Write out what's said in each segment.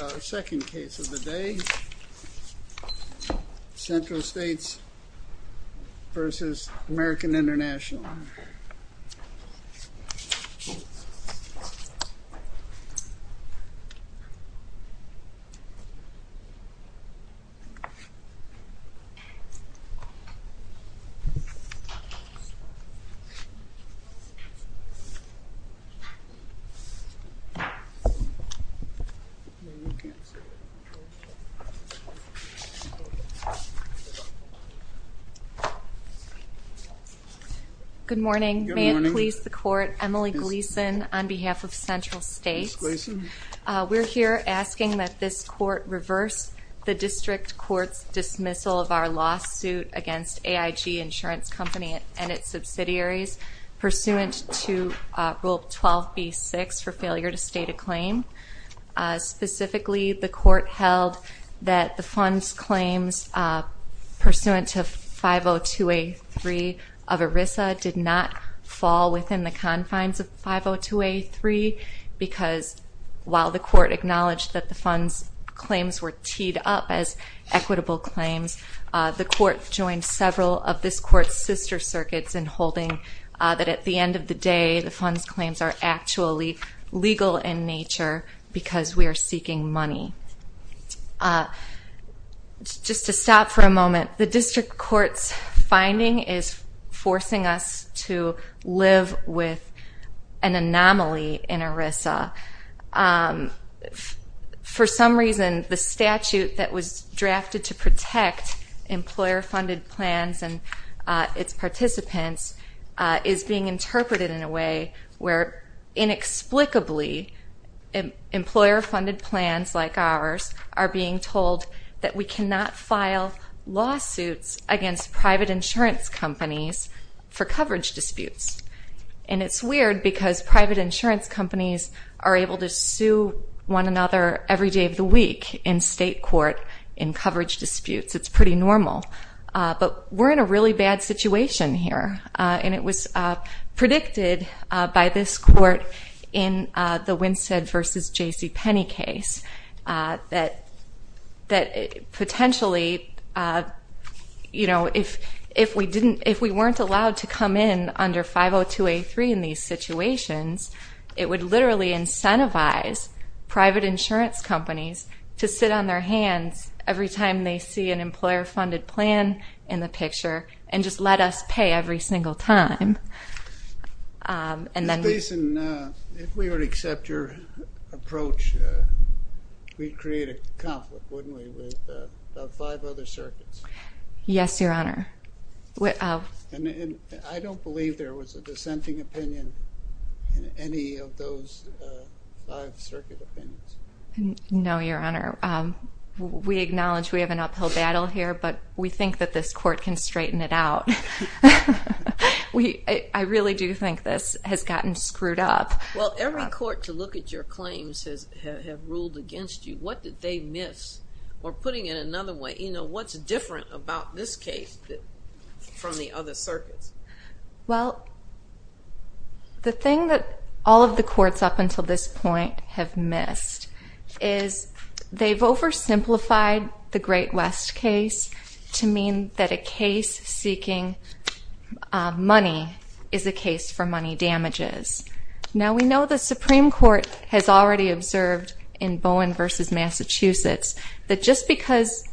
Our second case of the day, Central States v. American International. Good morning. May it please the court, Emily Gleason on behalf of Central States. We're here asking that this court reverse the district court's dismissal of our lawsuit against AIG Insurance Company and its subsidiaries pursuant to rule 12b6 for failure to state a claim. Specifically, the court held that the funds claims pursuant to 502A3 of ERISA did not fall within the confines of 502A3 because while the court acknowledged that the funds claims were teed up as equitable claims, the court joined several of this court's sister circuits in holding that at the end of the day, the funds claims are actually legal in nature because we are seeking money. Just to stop for a moment, the district court's finding is forcing us to live with an anomaly in ERISA. For some reason, the statute that was drafted to protect employer funded plans and its participants is being interpreted in a way where inexplicably, employer funded plans like ours are being told that we cannot file lawsuits against private insurance companies for coverage disputes. And it's weird because private insurance companies are able to sue one another every day of the week in state court in coverage disputes. It's pretty normal. But we're in a really bad situation here and it was predicted by this court in the Winstead v. JCPenney case that potentially, if we weren't allowed to come in under 502A3 in these situations, it would literally incentivize private insurance companies to sit on their hands every time they see an employer-funded plan in the picture and just let us pay every single time and then... Ms. Basin, if we would accept your approach, we'd create a conflict, wouldn't we, with five other circuits? Yes, Your Honor. I don't believe there was a dissenting opinion in any of those five circuit opinions. No, Your Honor. We acknowledge we have an uphill battle here, but we think that this court can straighten it out. I really do think this has gotten screwed up. Well, every court to look at your claims has ruled against you. What did they miss? Or putting it another way, you know, what's different about this case from the other circuits? Well, the thing that all of the courts up until this point have missed is they've oversimplified the Great West case to mean that a case seeking money is a case for money damages. Now we know the Supreme Court has already observed in Bowen v. Massachusetts that just because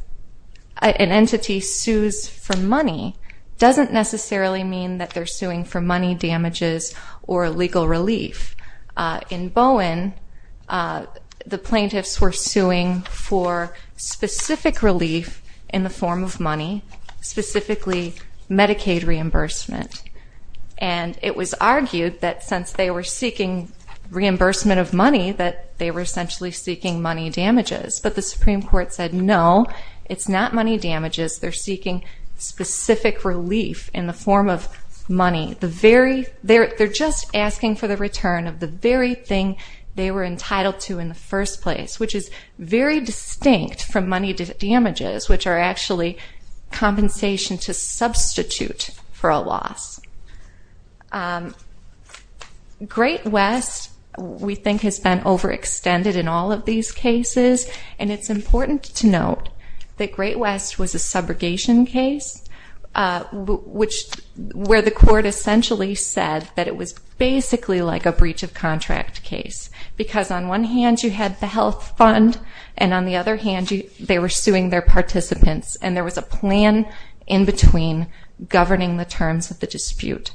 an entity sues for money doesn't necessarily mean that they're suing for money. In Bowen, the plaintiffs were suing for specific relief in the form of money, specifically Medicaid reimbursement. And it was argued that since they were seeking reimbursement of money, that they were essentially seeking money damages. But the Supreme Court said, no, it's not money damages. They're seeking specific relief in the form of money. They're just asking for the return of the very thing they were entitled to in the first place, which is very distinct from money damages, which are actually compensation to substitute for a loss. Great West, we think, has been overextended in all of these cases. And it's important to note that Great West was a subrogation case, where the contract case. Because on one hand, you had the health fund, and on the other hand, they were suing their participants. And there was a plan in between governing the terms of the dispute.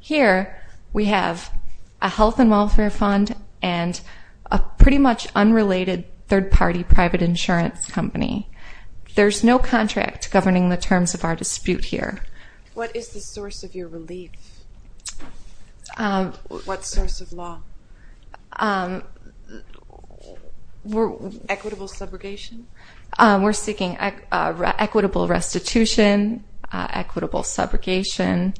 Here, we have a health and welfare fund and a pretty much unrelated third-party private insurance company. There's no contract governing the terms of our dispute here. What is the source of your relief? What source of law? Equitable subrogation? We're seeking equitable restitution, equitable subrogation,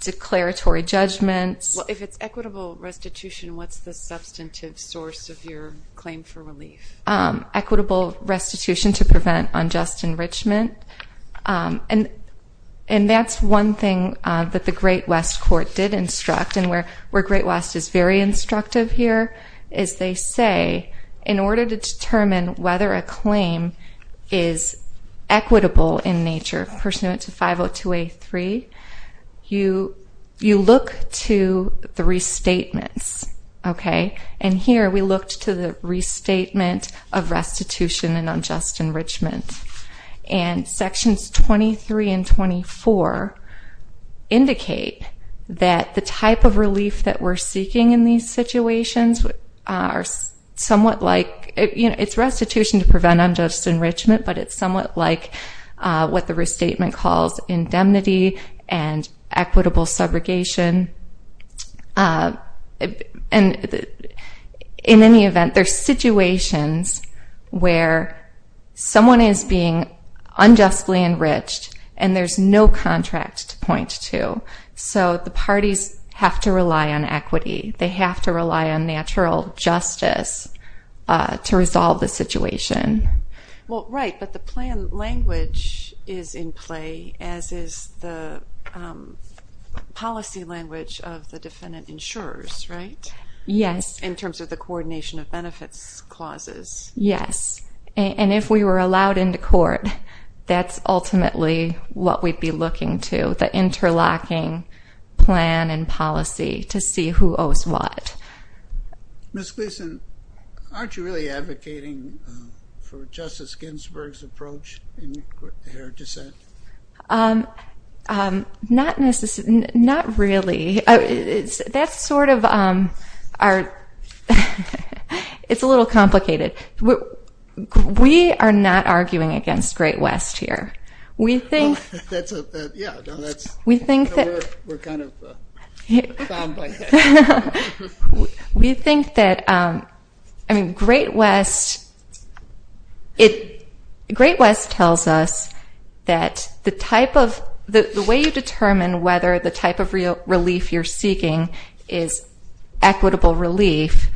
declaratory judgments. If it's equitable restitution, what's the substantive source of your claim for relief? Equitable restitution to prevent unjust enrichment. And that's one thing that the Great West court did instruct. And where Great West is very instructive here, is they say, in order to determine whether a claim is equitable in nature, pursuant to 502A3, you look to the restatements. And here, we looked to the restatement of restitution and unjust enrichment. And sections 23 and 24 indicate that the type of relief that we're seeking in these situations are somewhat like, it's restitution to prevent unjust enrichment, but it's somewhat like what the restatement calls indemnity and in any event, there's situations where someone is being unjustly enriched and there's no contract to point to. So the parties have to rely on equity. They have to rely on natural justice to resolve the situation. Well, right, but the plan language is in play, as is the policy language of the defendant insurers, right? Yes. In terms of the coordination of benefits clauses. Yes. And if we were allowed into court, that's ultimately what we'd be looking to, the interlocking plan and policy to see who owes what. Ms. Gleason, aren't you really advocating for Justice Ginsburg's approach in her dissent? Not really. That's sort of our – it's a little complicated. We are not arguing against Great West here. That's a – yeah, no, that's – We think that – We're kind of bombed by that. We think that – I mean, Great West tells us that the type of – the way you determine whether the type of relief you're seeking is equitable relief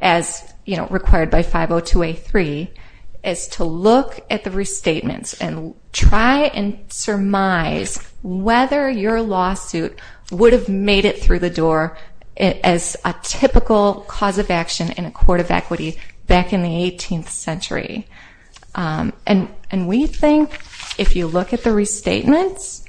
as required by 502A3 is to look at the restatements and try and surmise whether your lawsuit would have made it through the door as a typical cause of action in a court of equity back in the 18th century. And we think if you look at the restatements,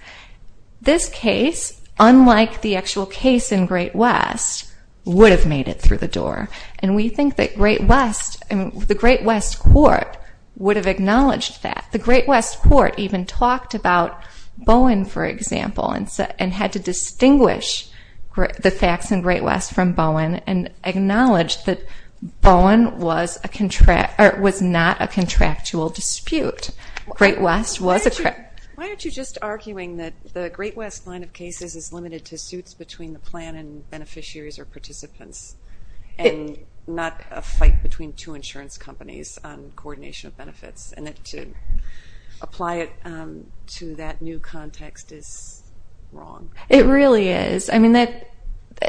this case, unlike the actual case in Great West, would have made it through the door. And we think that Great West – I mean, the Great West court would have acknowledged that. The Great West court even talked about Bowen, for example, and had to distinguish the facts in Great West from Bowen and acknowledge that Bowen was not a contractual dispute. Great West was a contractual dispute. Why aren't you just arguing that the Great West line of cases is limited to suits between the plan and beneficiaries or participants and not a fight between two insurance companies on coordination of benefits and to apply it to that new context is wrong? It really is. I mean,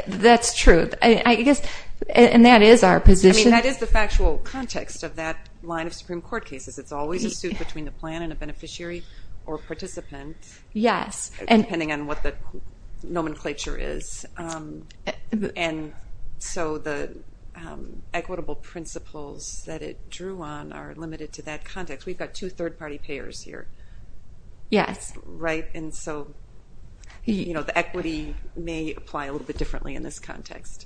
that's true. And that is our position. I mean, that is the factual context of that line of Supreme Court cases. It's always a suit between the plan and a beneficiary or participant, depending on what the nomenclature is. And so the equitable principles that it drew on are limited to that context. We've got two third-party payers here. Yes. Right? And so the equity may apply a little bit differently in this context.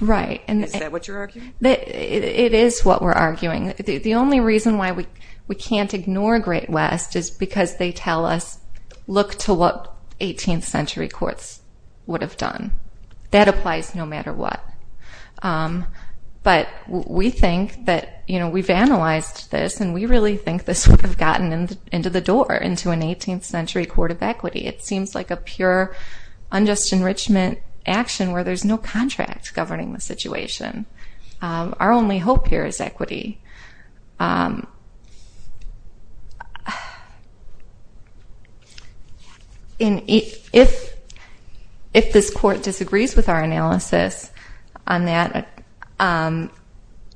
Right. Is that what you're arguing? It is what we're arguing. The only reason why we can't ignore Great West is because they tell us, look to what 18th century courts would have done. That applies no matter what. But we think that we've analyzed this, and we really think this would have gotten into the door, into an 18th century court of equity. It seems like a pure unjust enrichment action where there's no contract governing the situation. Our only hope here is equity. And if this court disagrees with our analysis on that,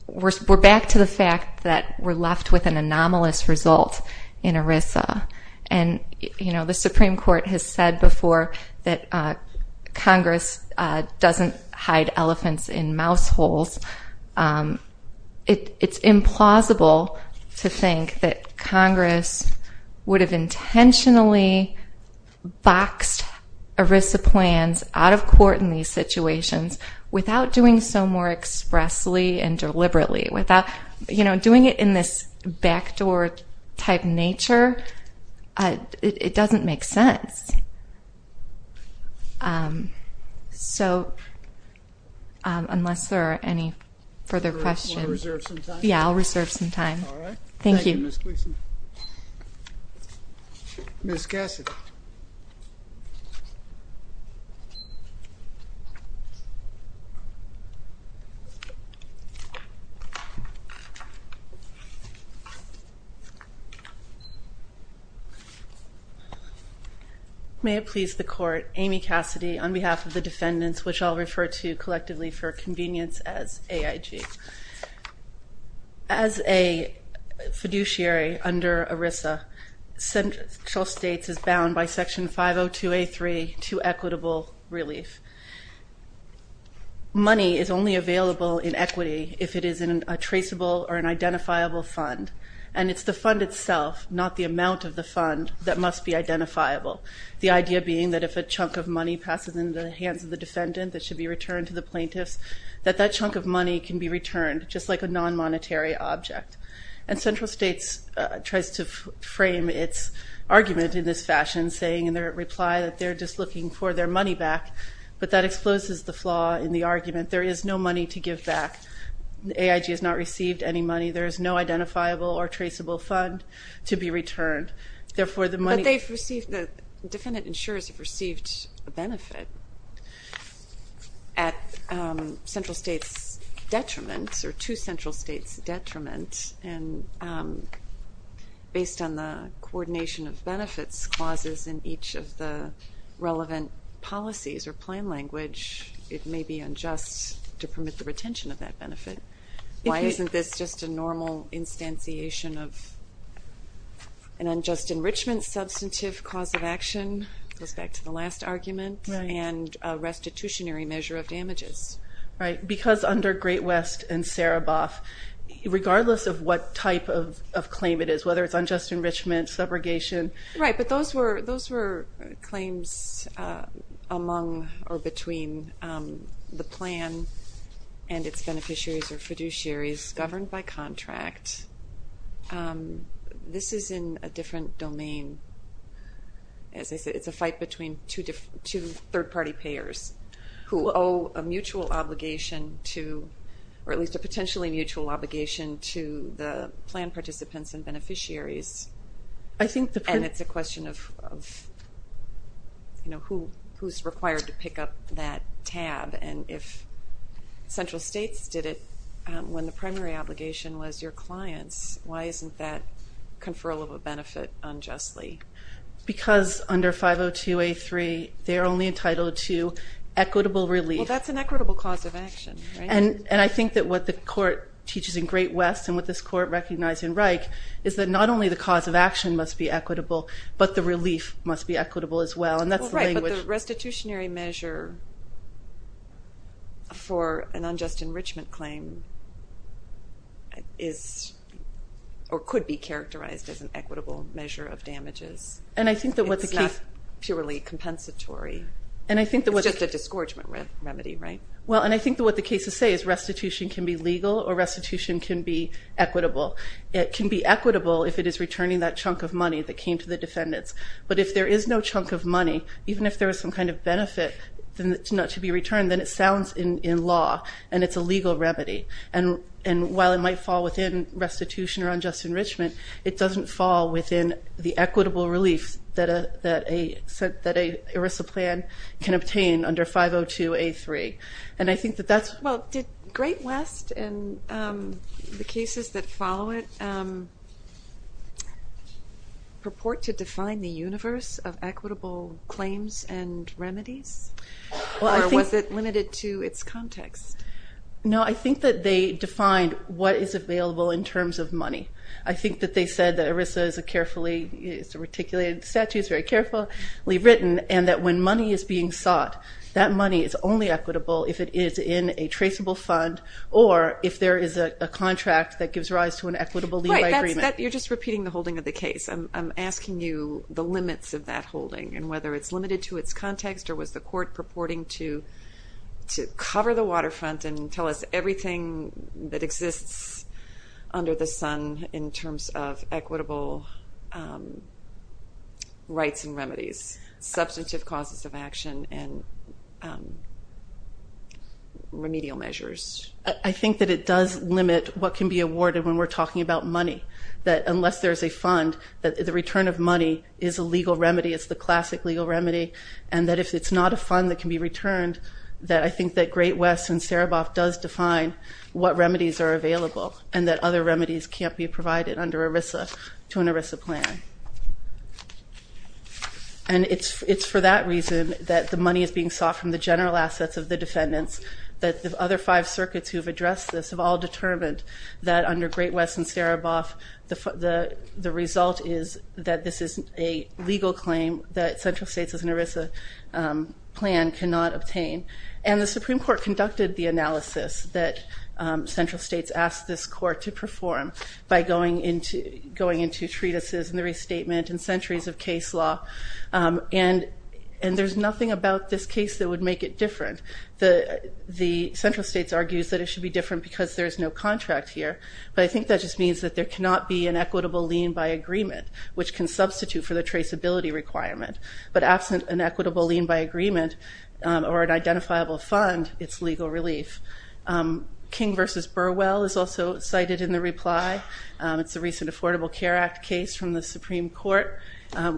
we're back to the fact that we're left with an anomalous result in ERISA. And, you know, the Supreme Court has said before that Congress doesn't hide elephants in mouse holes. It's implausible to think that Congress would have intentionally boxed ERISA plans out of court in these situations without doing so more expressly and deliberately, without, you know, doing it in this backdoor type nature. It doesn't make sense. So unless there are any further questions. You want to reserve some time? Yeah, I'll reserve some time. All right. Thank you. Ms. Cassidy. May it please the court. Amy Cassidy on behalf of the defendants, which I'll refer to collectively for convenience as AIG. As a fiduciary under ERISA, Central States is bound by Section 502A3 to equitable relief. Money is only available in equity if it is in a traceable or an identifiable fund. And it's the fund itself, not the amount of the fund, that must be identifiable. The idea being that if a chunk of money passes into the hands of the defendant that should be returned to the plaintiffs, that that chunk of money can be returned just like a non-monetary object. And Central States tries to frame its argument in this fashion, saying in their reply that they're just looking for their money back, but that exposes the flaw in the argument. There is no money to give back. AIG has not received any money. There is no identifiable or traceable fund to be returned. But the defendant insurers have received a benefit at Central States' detriment or to Central States' detriment, and based on the coordination of benefits clauses in each of the relevant policies or plain language, it may be unjust to permit the retention of that benefit. Why isn't this just a normal instantiation of an unjust enrichment, substantive cause of action, goes back to the last argument, and a restitutionary measure of damages? Right, because under Great West and Saraboff, regardless of what type of claim it is, whether it's unjust enrichment, subrogation. Right, but those were claims among or between the plan and its beneficiaries or fiduciaries governed by contract. This is in a different domain. As I said, it's a fight between two third-party payers who owe a mutual obligation to, or at least a potentially mutual obligation, to the plan participants and beneficiaries. And it's a question of who's required to pick up that tab and if Central States did it when the primary obligation was your clients, why isn't that conferral of a benefit unjustly? Because under 502A3, they're only entitled to equitable relief. Well, that's an equitable cause of action, right? And I think that what the Court teaches in Great West and what this Court recognized in Reich is that not only the cause of action must be equitable, but the relief must be equitable as well, and that's the language. But the restitutionary measure for an unjust enrichment claim could be characterized as an equitable measure of damages. It's not purely compensatory. It's just a disgorgement remedy, right? Well, and I think what the cases say is restitution can be legal or restitution can be equitable. It can be equitable if it is returning that chunk of money that came to the defendants. But if there is no chunk of money, even if there is some kind of benefit not to be returned, then it sounds in law and it's a legal remedy. And while it might fall within restitution or unjust enrichment, it doesn't fall within the equitable relief that an ERISA plan can obtain under 502A3. And I think that that's... Well, did Great West and the cases that follow it purport to define the universe of equitable claims and remedies? Or was it limited to its context? No, I think that they defined what is available in terms of money. I think that they said that ERISA is a carefully... it's a reticulated statute, it's very carefully written, and that when money is being sought, that money is only equitable if it is in a traceable fund or if there is a contract that gives rise to an equitable levy agreement. You're just repeating the holding of the case. I'm asking you the limits of that holding and whether it's limited to its context or was the court purporting to cover the waterfront and tell us everything that exists under the sun in terms of equitable rights and remedies, substantive causes of action, and remedial measures. I think that it does limit what can be awarded when we're talking about money, that unless there's a fund, that the return of money is a legal remedy, it's the classic legal remedy, and that if it's not a fund that can be returned, that I think that Great West and Sereboff does define what remedies are available and that other remedies can't be provided under ERISA to an ERISA plan. And it's for that reason that the money is being sought from the general assets of the defendants, that the other five circuits who have addressed this have all determined that under Great West and Sereboff, the result is that this is a legal claim that central states as an ERISA plan cannot obtain. And the Supreme Court conducted the analysis that central states asked this court to perform by going into treatises and the restatement and centuries of case law, and there's nothing about this case that would make it different. The central states argues that it should be different because there's no contract here, but I think that just means that there cannot be an equitable lien by agreement, which can substitute for the traceability requirement. But absent an equitable lien by agreement or an identifiable fund, it's legal relief. King v. Burwell is also cited in the reply. It's a recent Affordable Care Act case from the Supreme Court,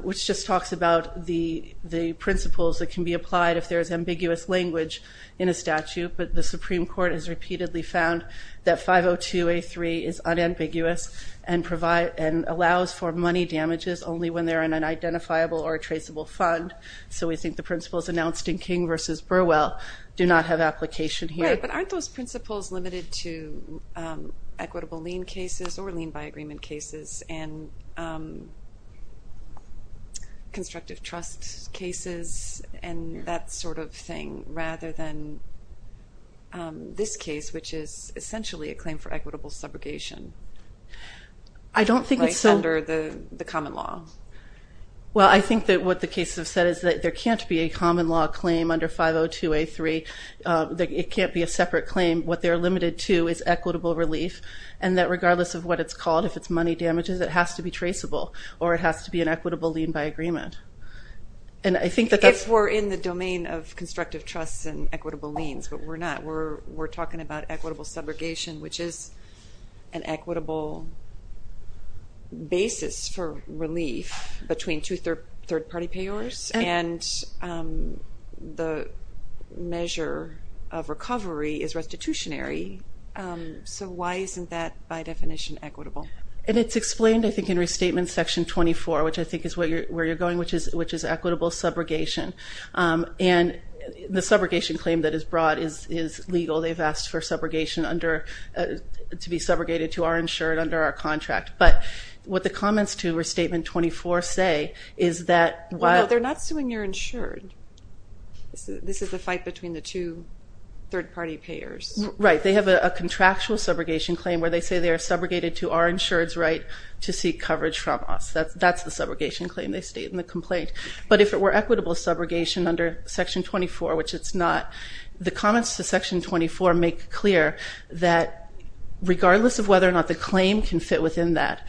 which just talks about the principles that can be applied if there's ambiguous language in a statute, but the Supreme Court has repeatedly found that 502A3 is unambiguous and allows for money damages only when they're in an identifiable or traceable fund. So we think the principles announced in King v. Burwell do not have application here. Right, but aren't those principles limited to equitable lien cases or lien by agreement cases and constructive trust cases and that sort of thing rather than this case, which is essentially a claim for equitable subrogation, right, under the common law? Well, I think that what the cases have said is that there can't be a common law claim under 502A3. It can't be a separate claim. What they're limited to is equitable relief and that regardless of what it's called, if it's money damages, it has to be traceable or it has to be an equitable lien by agreement. If we're in the domain of constructive trusts and equitable liens, but we're not. We're talking about equitable subrogation, which is an equitable basis for relief between two third-party payors and the measure of recovery is restitutionary. So why isn't that by definition equitable? And it's explained, I think, in Restatement Section 24, which I think is where you're going, which is equitable subrogation. And the subrogation claim that is brought is legal. They've asked for subrogation to be subrogated to our insured under our contract. But what the comments to Restatement 24 say is that... Well, no, they're not suing your insured. This is the fight between the two third-party payors. Right. They have a contractual subrogation claim where they say they are subrogated to our insured's right to seek coverage from us. That's the subrogation claim they state in the complaint. But if it were equitable subrogation under Section 24, which it's not, the comments to Section 24 make clear that regardless of whether or not the claim can fit within that,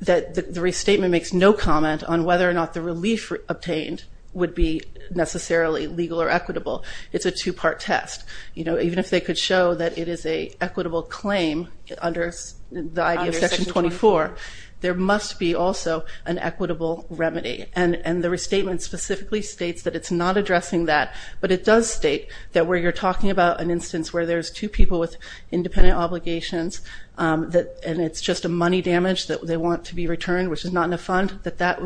that the restatement makes no comment on whether or not the relief obtained would be necessarily legal or equitable. It's a two-part test. Even if they could show that it is an equitable claim under the idea of Section 24, there must be also an equitable remedy. And the restatement specifically states that it's not addressing that, but it does state that where you're talking about an instance where there's two people with independent obligations and it's just a money damage that they want to be returned, which is not in a fund, that that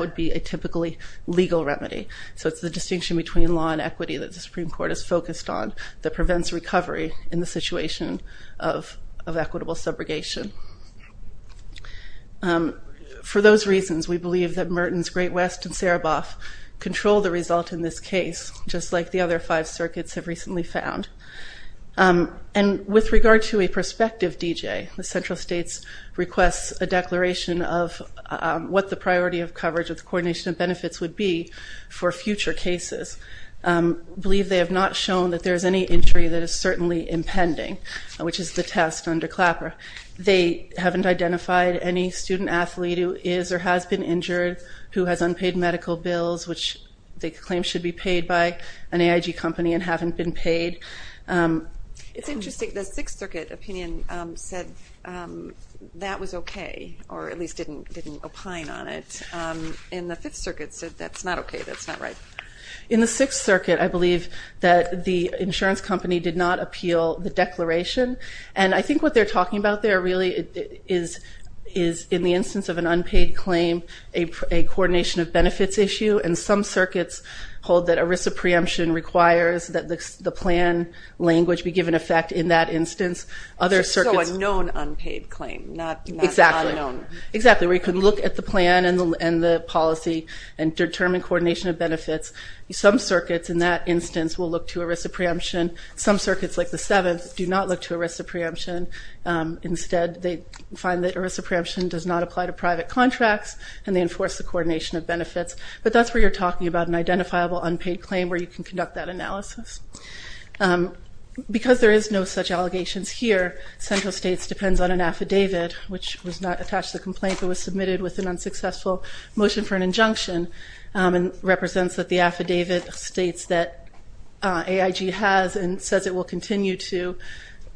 would be a typically legal remedy. So it's the distinction between law and equity that the Supreme Court is focused on that prevents recovery in the situation of equitable subrogation. For those reasons, we believe that Mertens, Great West, and Sereboff control the result in this case, just like the other five circuits have recently found. And with regard to a prospective DJ, the central states request a declaration of what the priority of coverage with coordination of benefits would be for future cases. We believe they have not shown that there is any injury that is certainly impending, which is the test under CLAPR. They haven't identified any student athlete who is or has been injured, who has unpaid medical bills, which they claim should be paid by an AIG company and haven't been paid. It's interesting. The Sixth Circuit opinion said that was okay, or at least didn't opine on it. And the Fifth Circuit said that's not okay, that's not right. In the Sixth Circuit, I believe that the insurance company did not appeal the declaration. And I think what they're talking about there, really, is in the instance of an unpaid claim, a coordination of benefits issue. And some circuits hold that a risk of preemption requires that the plan language be given effect in that instance. So a known unpaid claim, not unknown. Exactly. Exactly, where you can look at the plan and the policy and determine coordination of benefits. Some circuits, in that instance, will look to a risk of preemption. Some circuits, like the Seventh, do not look to a risk of preemption. Instead, they find that a risk of preemption does not apply to private contracts, and they enforce the coordination of benefits. But that's where you're talking about an identifiable unpaid claim, where you can conduct that analysis. Because there is no such allegations here, central states depends on an affidavit, which was not attached to the complaint, but was submitted with an unsuccessful motion for an injunction, and represents that the affidavit states that AIG has and says it will continue to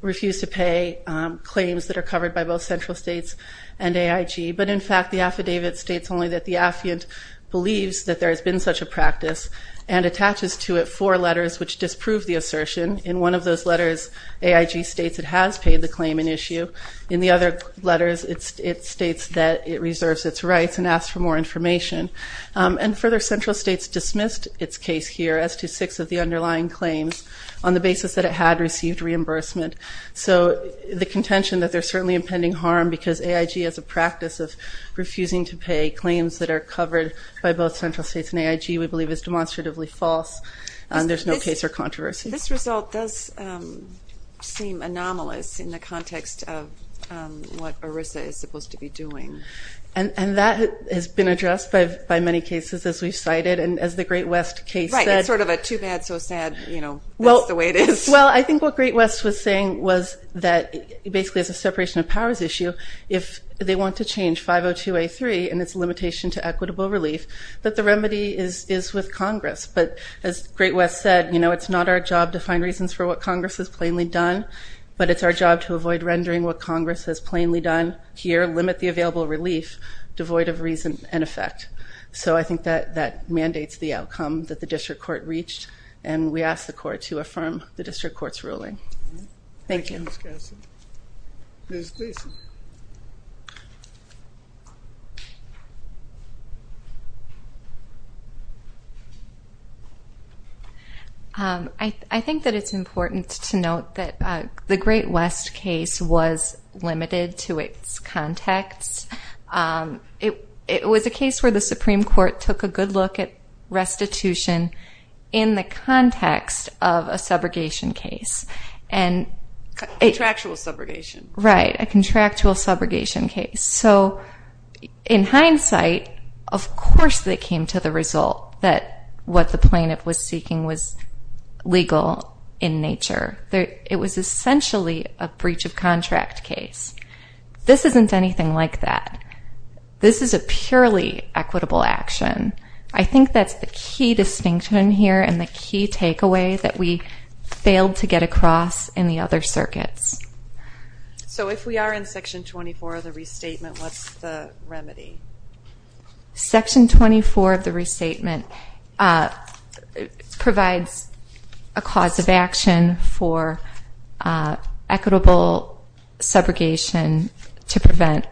refuse to pay claims that are covered by both central states and AIG. But in fact, the affidavit states only that the affiant believes that there has been such a practice and attaches to it four letters which disprove the assertion. In one of those letters, AIG states it has paid the claim in issue. In the other letters, it states that it reserves its rights and asks for more information. And further, central states dismissed its case here as to six of the underlying claims on the basis that it had received reimbursement. So the contention that there's certainly impending harm because AIG has a practice of refusing to pay claims that are covered by both central states and AIG we believe is demonstratively false. There's no case or controversy. This result does seem anomalous in the context of what ERISA is supposed to be doing. And that has been addressed by many cases, as we've cited. And as the Great West case said... Right, it's sort of a too bad, so sad. That's the way it is. Well, I think what Great West was saying was that basically as a separation of powers issue, if they want to change 502A3 and its limitation to equitable relief, that the remedy is with Congress. But as Great West said, it's not our job to find reasons for what Congress has plainly done, but it's our job to avoid rendering what Congress has plainly done here, limit the available relief, devoid of reason and effect. So I think that mandates the outcome that the district court reached. And we ask the court to affirm the district court's ruling. Thank you. Thank you, Ms. Gasson. Ms. Gleason. I think that it's important to note that the Great West case was limited to its context. It was a case where the Supreme Court took a good look at restitution in the context of a subrogation case. A contractual subrogation. Right, a contractual subrogation case. So in hindsight, of course that came to the result that what the plaintiff was seeking was legal in nature. It was essentially a breach of contract case. This isn't anything like that. This is a purely equitable action. I think that's the key distinction here and the key takeaway that we failed to get across in the other circuits. So if we are in Section 24 of the restatement, what's the remedy? Section 24 of the restatement provides a cause of action for equitable subrogation to prevent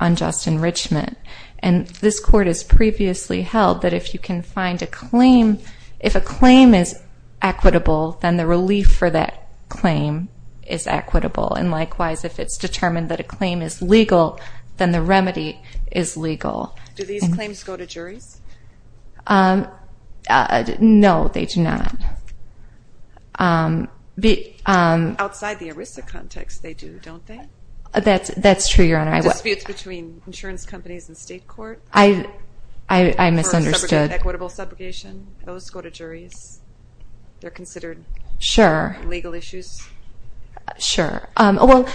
unjust enrichment. And this Court has previously held that if you can find a claim, if a claim is equitable, then the relief for that claim is equitable. And likewise, if it's determined that a claim is legal, then the remedy is legal. Do these claims go to juries? No, they do not. Outside the ERISA context, they do, don't they? That's true, Your Honor. Disputes between insurance companies and state court? I misunderstood. For equitable subrogation, those go to juries? They're considered legal issues? Sure. Well,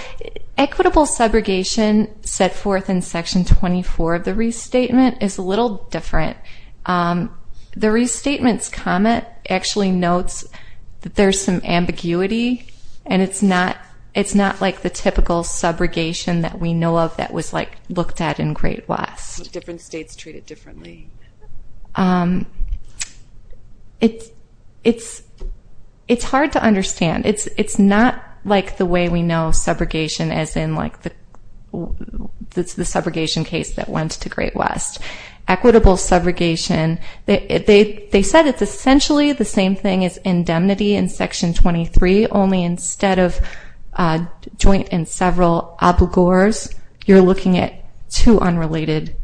equitable subrogation set forth in Section 24 of the restatement is a little different. The restatement's comment actually notes that there's some ambiguity, and it's not like the typical subrogation that we know of that was looked at in Great West. Different states treat it differently. It's hard to understand. It's not like the way we know subrogation as in the subrogation case that went to Great West. Equitable subrogation, they said it's essentially the same thing as indemnity in Section 23, only instead of joint and several obligors, you're looking at two unrelated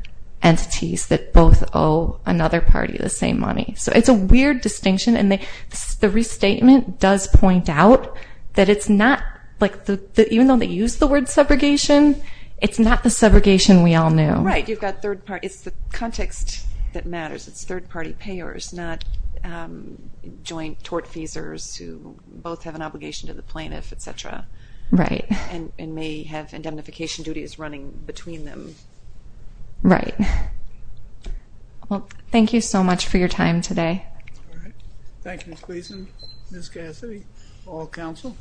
entities that both owe another party the same money. So it's a weird distinction, and the restatement does point out that it's not, even though they use the word subrogation, it's not the subrogation we all knew. Right, you've got third parties. It's the context that matters. It's third-party payers, not joint tortfeasors who both have an obligation to the plaintiff, et cetera, and may have indemnification duties running between them. Right. Well, thank you so much for your time today. All right. Thank you, Ms. Gleason, Ms. Cassidy, all counsel.